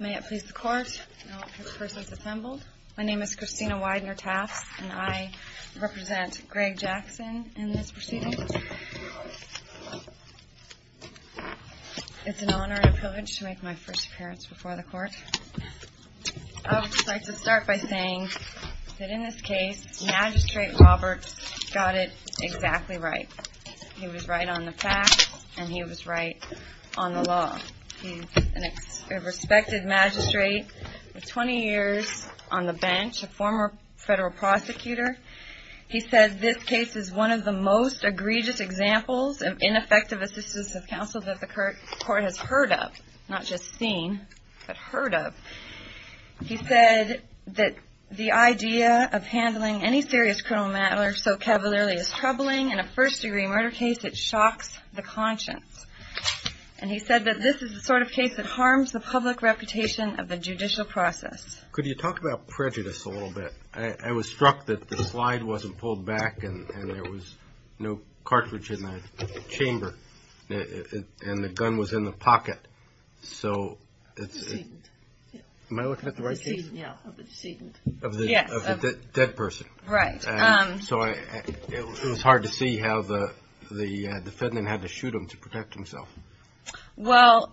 May it please the Court, now that this person is assembled, my name is Christina Widener-Tafts and I represent Greg Jackson in this proceeding. It's an honor and a privilege to make my first appearance before the Court. I would just like to start by saying that in this case, Magistrate Roberts got it exactly right. He was right on the facts and he was right on the law. He's a respected magistrate, 20 years on the bench, a former federal prosecutor. He said this case is one of the most egregious examples of ineffective assistance of counsel that the Court has heard of, not just seen, but heard of. He said that the idea of handling any serious criminal matter so cavalierly is troubling. In a first-degree murder case, it shocks the conscience. And he said that this is the sort of case that harms the public reputation of the judicial process. Could you talk about prejudice a little bit? I was struck that the slide wasn't pulled back and there was no cartridge in the chamber and the gun was in the pocket. So, am I looking at the right piece? Of the decedent. Yes. Of the dead person. Right. So, it was hard to see how the defendant had to shoot him to protect himself. Well,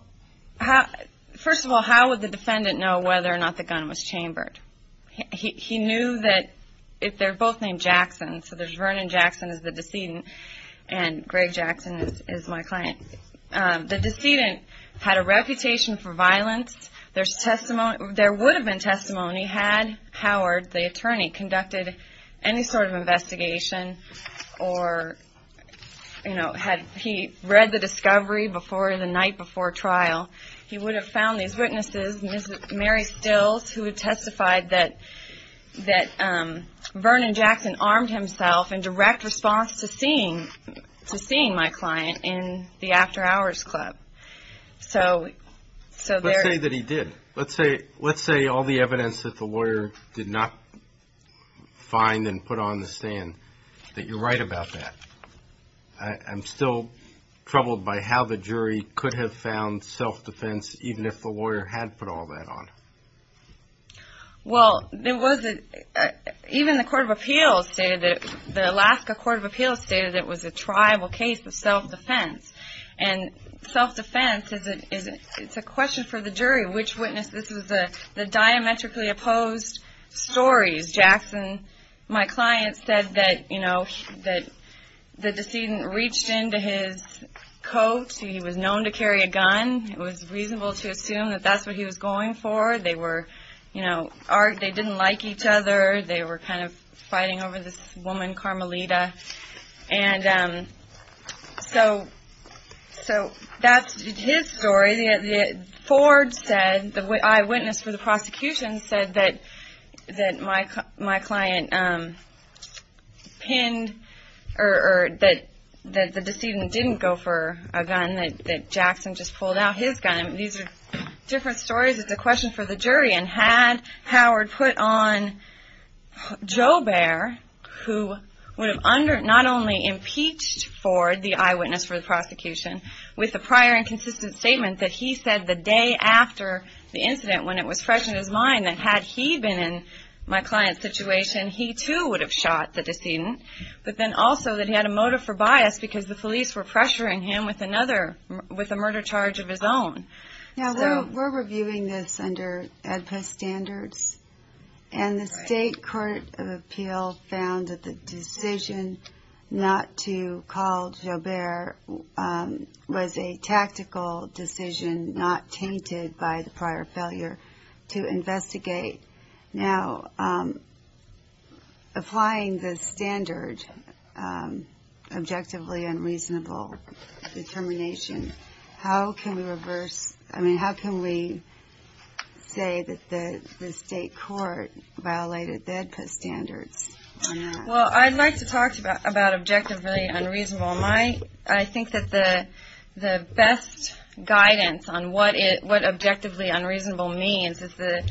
first of all, how would the defendant know whether or not the gun was chambered? He knew that they're both named Jackson. So, there's Vernon Jackson as the decedent and Greg Jackson is my client. The decedent had a reputation for violence. There's testimony There would have been testimony had Howard, the attorney, conducted any sort of investigation or had he read the discovery the night before trial. He would have found these witnesses, Mary Stills, who had testified that Vernon Jackson armed himself in direct response to seeing my client in the after-hours club. Let's say that he did. Let's say all the evidence that the lawyer did not find and put on the stand, that you're right about that. I'm still troubled by how the jury could have found self-defense, even if the lawyer had put all that on. Well, even the Alaska Court of Appeals stated that it was a tribal case of self-defense. And self-defense, it's a question for the jury. Which witness? This is the diametrically opposed stories. Jackson, my client, said that the decedent reached into his coat. He was known to carry a gun. It was reasonable to assume that that's what he was going for. They were, you know, they didn't like each other. They were kind of fighting over this So that's his story. Ford said, the eyewitness for the prosecution said that my client pinned or that the decedent didn't go for a gun, that Jackson just pulled out his gun. These are different stories. It's a question for the jury. And had Howard put on Joe Bear, who would have not only impeached Ford, the eyewitness for the prosecution, with a prior and consistent statement that he said the day after the incident when it was fresh in his mind that had he been in my client's situation, he too would have shot the decedent. But then also that he had a motive for bias because the police were pressuring him with another, with a murder charge of his own. Now, we're reviewing this under AEDPA standards. And the State Court of Appeal found that the decision not to call Joe Bear was a tactical decision not tainted by the prior failure to investigate. Now, applying the standard, objectively unreasonable determination, how can we reverse, I mean, how can we say that the State Court violated the AEDPA standards? Well, I'd like to talk to you about objectively unreasonable. I think that the best guidance on what objectively unreasonable means is the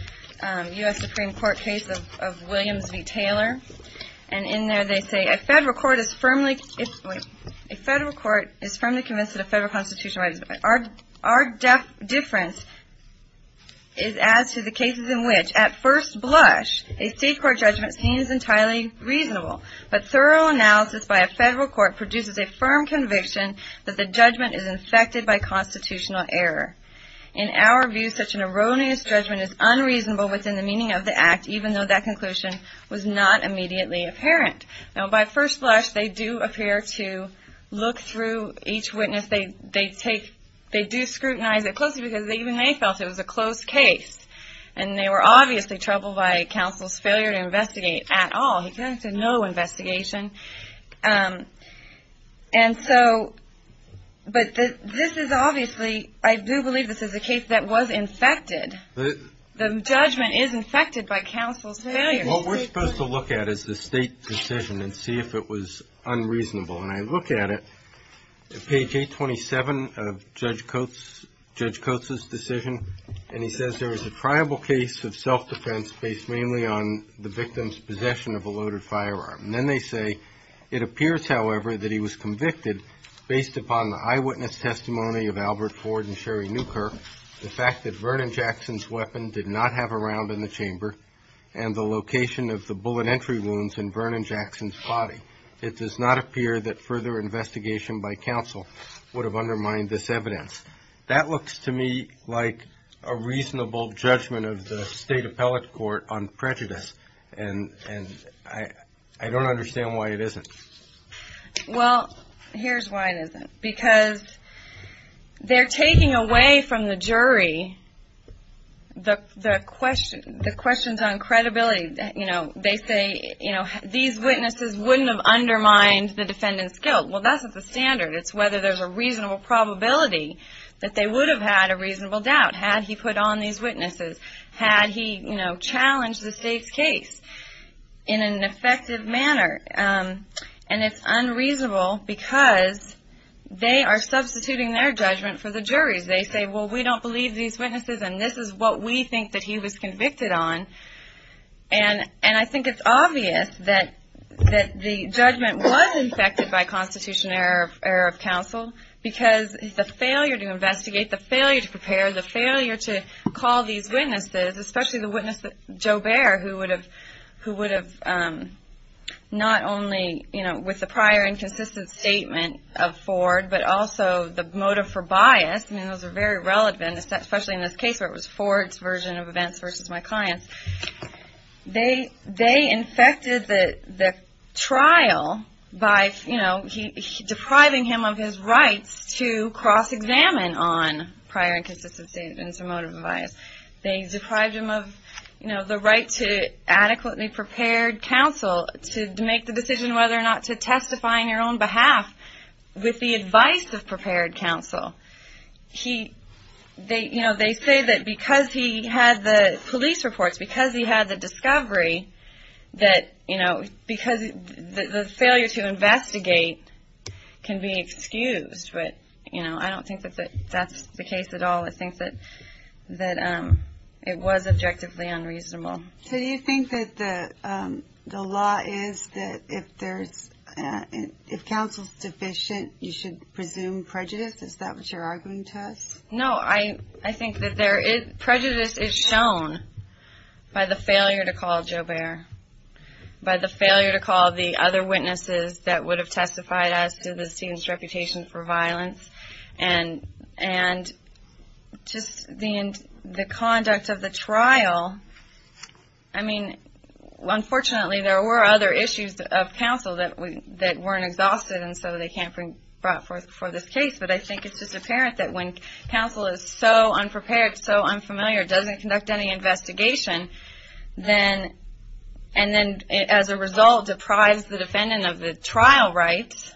U.S. Supreme Court case of Williams v. Taylor. And in there they say, a federal court is firmly, wait, a federal court is firmly convinced that a federal constitutional right is, our difference is as to the cases in which at first blush, a state court judgment seems entirely reasonable. But thorough analysis by a federal court produces a firm conviction that the judgment is infected by constitutional error. In our view, such an erroneous judgment is unreasonable within the meaning of the act, even though that conclusion was not immediately apparent. Now, by first blush, they do appear to look through each witness. They do scrutinize it closely because even they felt it was a close case. And they were obviously troubled by counsel's failure to investigate at all. He said no investigation. And so, but this is obviously, I do believe this is a case that was infected. The judgment is infected by counsel's failure. What we're supposed to look at is the state decision and see if it was unreasonable. And I look at it, page 827 of Judge Coates, Judge Coates' decision. And he says there was a triable case of self-defense based mainly on the victim's possession of a loaded firearm. And then they say, it appears, however, that he was convicted based upon the eyewitness testimony of Albert Ford and Sherry Newkirk, the fact that Vernon Jackson's weapon did not have a round in the chamber and the location of the bullet entry wounds in Vernon Jackson's body. It does not appear that further investigation by counsel would have undermined this evidence. That looks to me like a reasonable judgment of the state appellate court on prejudice. And I don't understand why it isn't. Well, here's why it isn't. Because they're taking away from the jury the questions on credibility. You know, they say, you know, these witnesses wouldn't have undermined the defendant's guilt. Well, that's not the standard. It's whether there's a reasonable probability that they would have had a reasonable doubt had he put on these witnesses, had he, you know, challenged the state's case in an effective manner. And it's unreasonable because they are substituting their judgment for the jury's. They say, well, we don't believe these witnesses and this is what we think that he was convicted on. And I think it's obvious that the judgment was infected by Constitutional error of counsel because the failure to investigate, the failure to prepare, the failure to call these witnesses, especially the witness, Joe Bair, who would have not only, you know, with the prior and consistent statement of Ford, but also the motive for bias, I mean, those are very relevant, especially in this case where it was Ford's version of events versus my client's. They infected the trial by, you know, depriving him of his rights to cross-examine on prior and consistent statements or motive of bias. They deprived him of, you know, the right to adequately prepared counsel to make the decision whether or not to testify on your own behalf with the advice of prepared counsel. He, they, you know, they say that because he had the police reports, because he had the discovery that, you know, because the failure to investigate can be excused. But, you know, I don't think that's the case at all. I think that it was objectively unreasonable. So do you think that the law is that if there's, if counsel's deficient, you should presume prejudice? Is that what you're arguing to us? No, I think that there is, prejudice is shown by the failure to call Joe Bair, by the failure to call the other witnesses that would have testified as to the student's reputation for violence. And just the conduct of the trial, I mean, unfortunately there were other issues of counsel that weren't exhausted and so they can't be brought forth for this case. But I think it's just apparent that when counsel is so unprepared, so unfamiliar, doesn't conduct any investigation, and then as a result deprives the defendant of the trial rights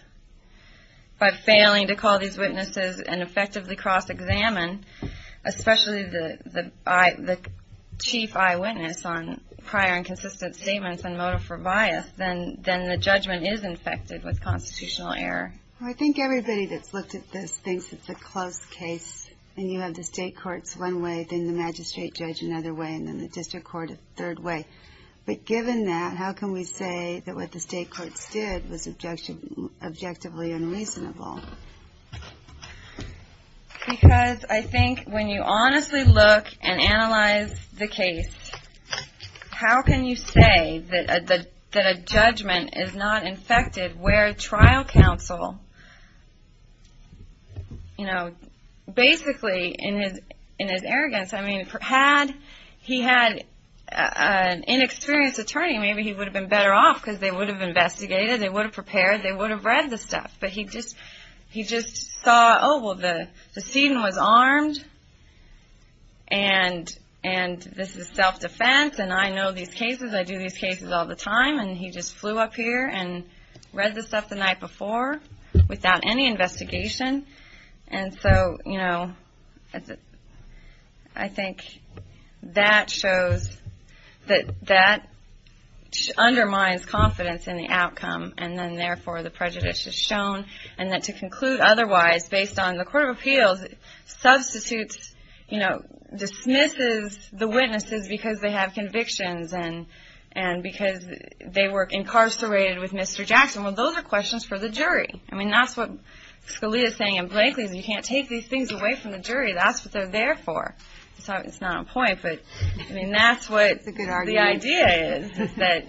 by failing to call these witnesses and effectively cross-examine, especially the chief eyewitness on prior and consistent statements and motive for bias, then the judgment is infected with constitutional error. I think everybody that's looked at this thinks it's a close case, and you have the state courts one way, then the magistrate judge another way, and then the district court a third way. But given that, how can we say that what the state courts did was objectively unreasonable? Because I think when you honestly look and analyze the case, how can you say that a judgment is not infected where trial counsel, you know, basically in his arrogance, I mean, had he had an inexperienced attorney, maybe he would have been better off because they would have investigated, they would have prepared, they would have read the stuff. But he just saw, oh, well, the student was armed, and this is self-defense, and I know these cases, I do these cases all the time, and he just flew up here and read the stuff the night before without any investigation. And so, you know, I think that shows that that undermines confidence in the outcome, and then therefore the prejudice is shown, and that to conclude otherwise based on the court of appeals substitutes, you know, dismisses the witnesses because they have convictions, and because they were incarcerated with Mr. Jackson. Well, those are questions for the jury. I mean, that's what Scalia is saying in Blankley, is you can't take these things away from the jury. That's what they're there for. So it's not a point, but I mean, that's what the idea is, is that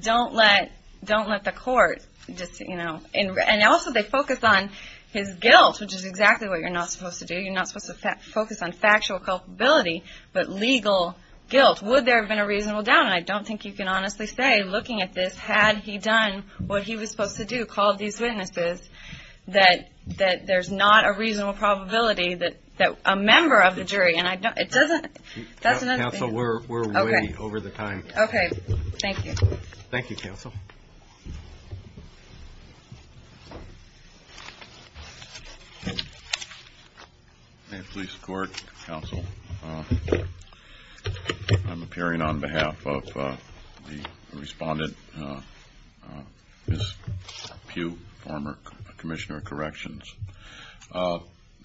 don't let the court, you know, and also they focus on his guilt, which is exactly what you're not supposed to do. You're not supposed to focus on factual culpability, but legal guilt. Would there have been a reasonable doubt? And I don't think you can honestly say, looking at this, had he done what he was supposed to do, called these witnesses, that there's not a reasonable probability that a member of the jury, and it doesn't... So we're way over the time. Okay. Thank you. Thank you, counsel. Police Court, counsel. I'm appearing on behalf of the respondent, Ms. Pugh, former Commissioner of Corrections.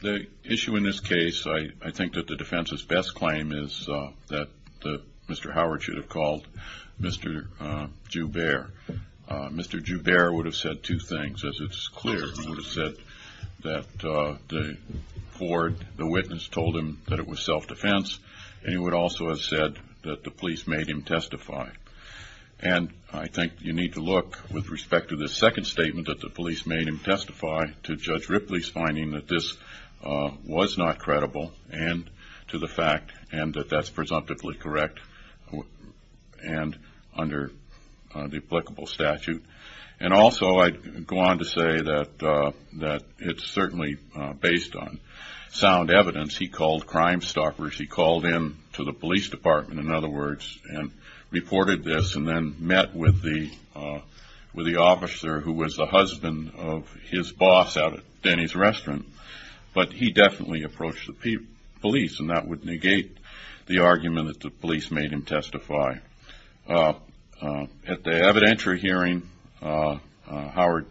The issue in this case, I think that the defense's best claim is that Mr. Howard should have called Mr. Joubert. Mr. Joubert would have said two things. As it's clear, he would have said that Ford, the witness, told him that it was self-defense, and he would also have said that the police made him testify. And I think you need to look, with respect to the second statement that the police made him testify, to Judge Ripley's finding that this was not credible, and to the fact that that's presumptively correct and under the applicable statute. And also, I'd go on to say that it's certainly based on sound evidence. He called Crimestoppers. He called in to the police department, in other words, and reported this, and then met with the officer who was the husband of his boss out at Denny's Restaurant. But he definitely approached the police, and that would negate the argument that the police made him testify. At the evidentiary hearing, Howard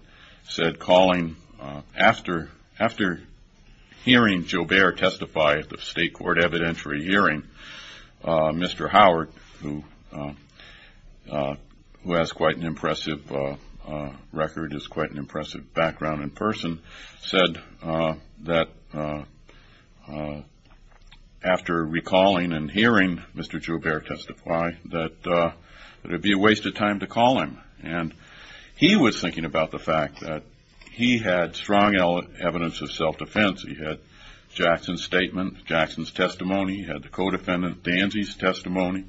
said, calling after hearing Joubert testify at the State Court evidentiary hearing, Mr. Howard, who has quite an impressive record, has quite an impressive background in person, said that after recalling and hearing Mr. Joubert testify that it would be a waste of time to call him. And he was thinking about the fact that he had strong evidence of self-defense. He had Jackson's statement, Jackson's testimony, he had the co-defendant Danzy's testimony,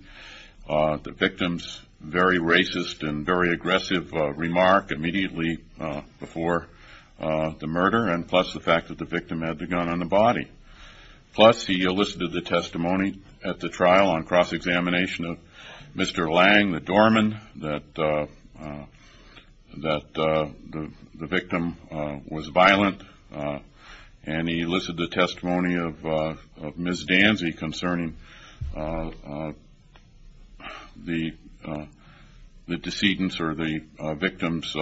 the victim's very racist and very aggressive remark immediately before the murder, and plus the fact that the victim had the gun on the body. Plus, he elicited the testimony at the trial on cross-examination of Mr. Lang, the doorman, that the victim was violent, and he elicited the testimony of Ms. Danzy concerning the decedent's or the victim's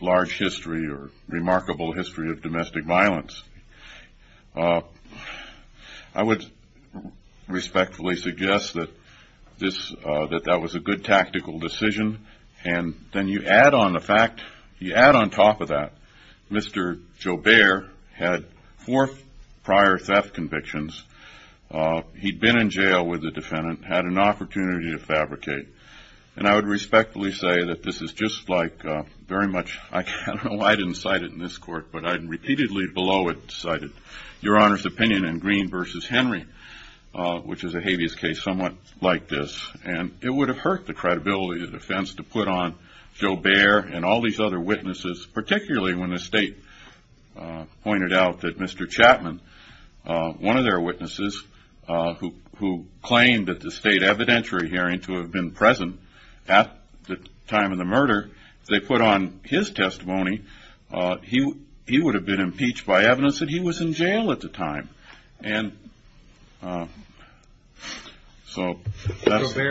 large history or remarkable history of domestic violence. I would respectfully suggest that that was a good tactical decision. And then you add on the fact, you add on top of that, Mr. Joubert had four prior theft convictions. He'd been in jail with the defendant, had an opportunity to fabricate. And I would respectfully say that this is just like very much, I don't know why I didn't cite it in this court, but I repeatedly below it cited Your Honor's opinion in Green v. Henry, which is a habeas case somewhat like this. And it would have hurt the credibility of the defense to put on Joubert and all these other witnesses, particularly when the state pointed out that Mr. Chapman, one of their witnesses who claimed at the state evidentiary hearing to have been present at the time of the murder, if they put on his testimony, he would have been impeached by evidence that he was in jail at the time. Joubert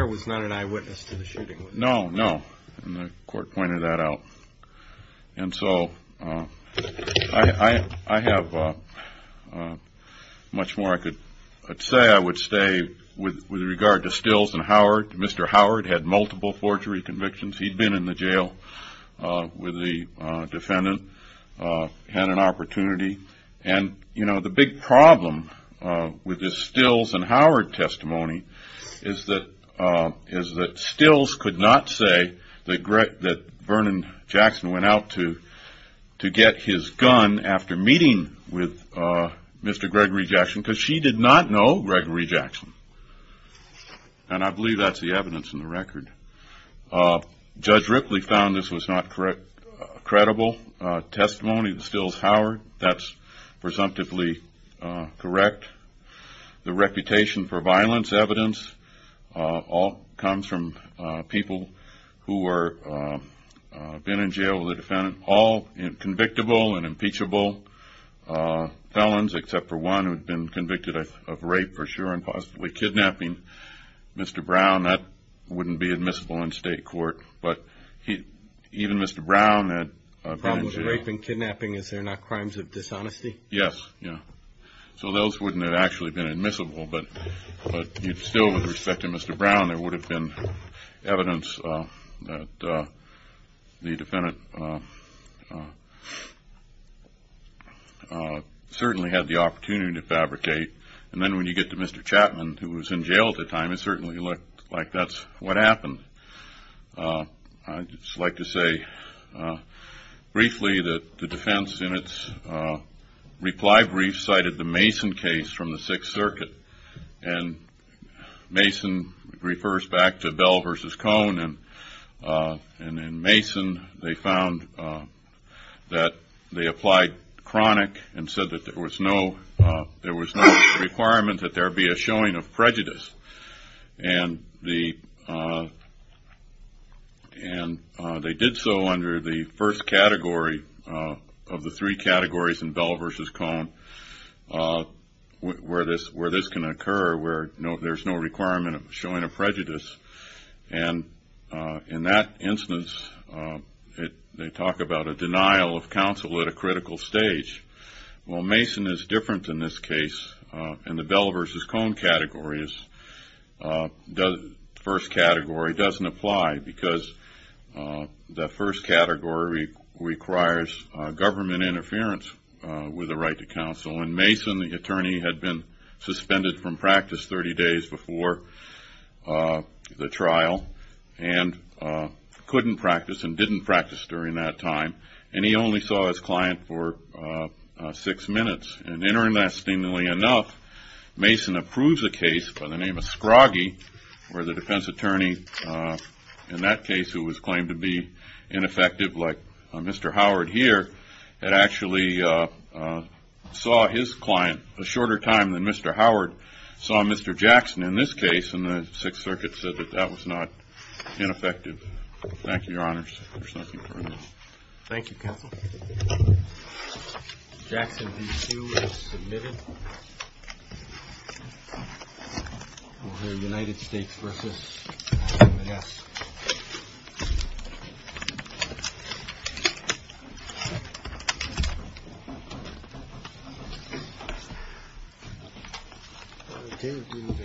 was not an eyewitness to the shooting. No, no. And the court pointed that out. And so I have much more I could say. I think I would stay with regard to Stills and Howard. Mr. Howard had multiple forgery convictions. He'd been in the jail with the defendant, had an opportunity. And, you know, the big problem with the Stills and Howard testimony is that Stills could not say that Vernon Jackson went out to get his gun after meeting with Mr. Gregory Jackson because she did not know Gregory Jackson. And I believe that's the evidence in the record. Judge Ripley found this was not credible testimony of the Stills and Howard. That's presumptively correct. The reputation for violence evidence all comes from people who have been in jail with a defendant. All convictable and impeachable felons, except for one who had been convicted of rape, for sure, and possibly kidnapping. Mr. Brown, that wouldn't be admissible in state court. But even Mr. Brown had been in jail. The problem with rape and kidnapping, is there not crimes of dishonesty? Yes. So those wouldn't have actually been admissible. But still, with respect to Mr. Brown, there would have been evidence that the defendant certainly had the opportunity to fabricate. And then when you get to Mr. Chapman, who was in jail at the time, it certainly looked like that's what happened. I'd just like to say briefly that the defense in its reply brief cited the Mason case from the Sixth Circuit. And Mason refers back to Bell v. Cohn. And in Mason, they found that they applied chronic and said that there was no requirement that there be a showing of prejudice. And they did so under the first category where this can occur, where there's no requirement of showing of prejudice. And in that instance, they talk about a denial of counsel at a critical stage. Well, Mason is different in this case. In the Bell v. Cohn category, the first category doesn't apply because the first category requires government interference with a right to counsel. And Mason, the attorney, had been suspended from practice 30 days before the trial and couldn't practice and didn't practice during that time. And he only saw his client for six minutes. And interestingly enough, Mason approves a case by the name of Scroggie where the defense attorney in that case, who was claimed to be ineffective like Mr. Howard here, had actually saw his client a shorter time than Mr. Howard saw Mr. Jackson in this case, and the Sixth Circuit said that that was not ineffective. Thank you, Your Honors. Thank you, Counsel. Jackson v. Hsu is submitted. We'll hear United States v. U.S. Thank you, Your Honors.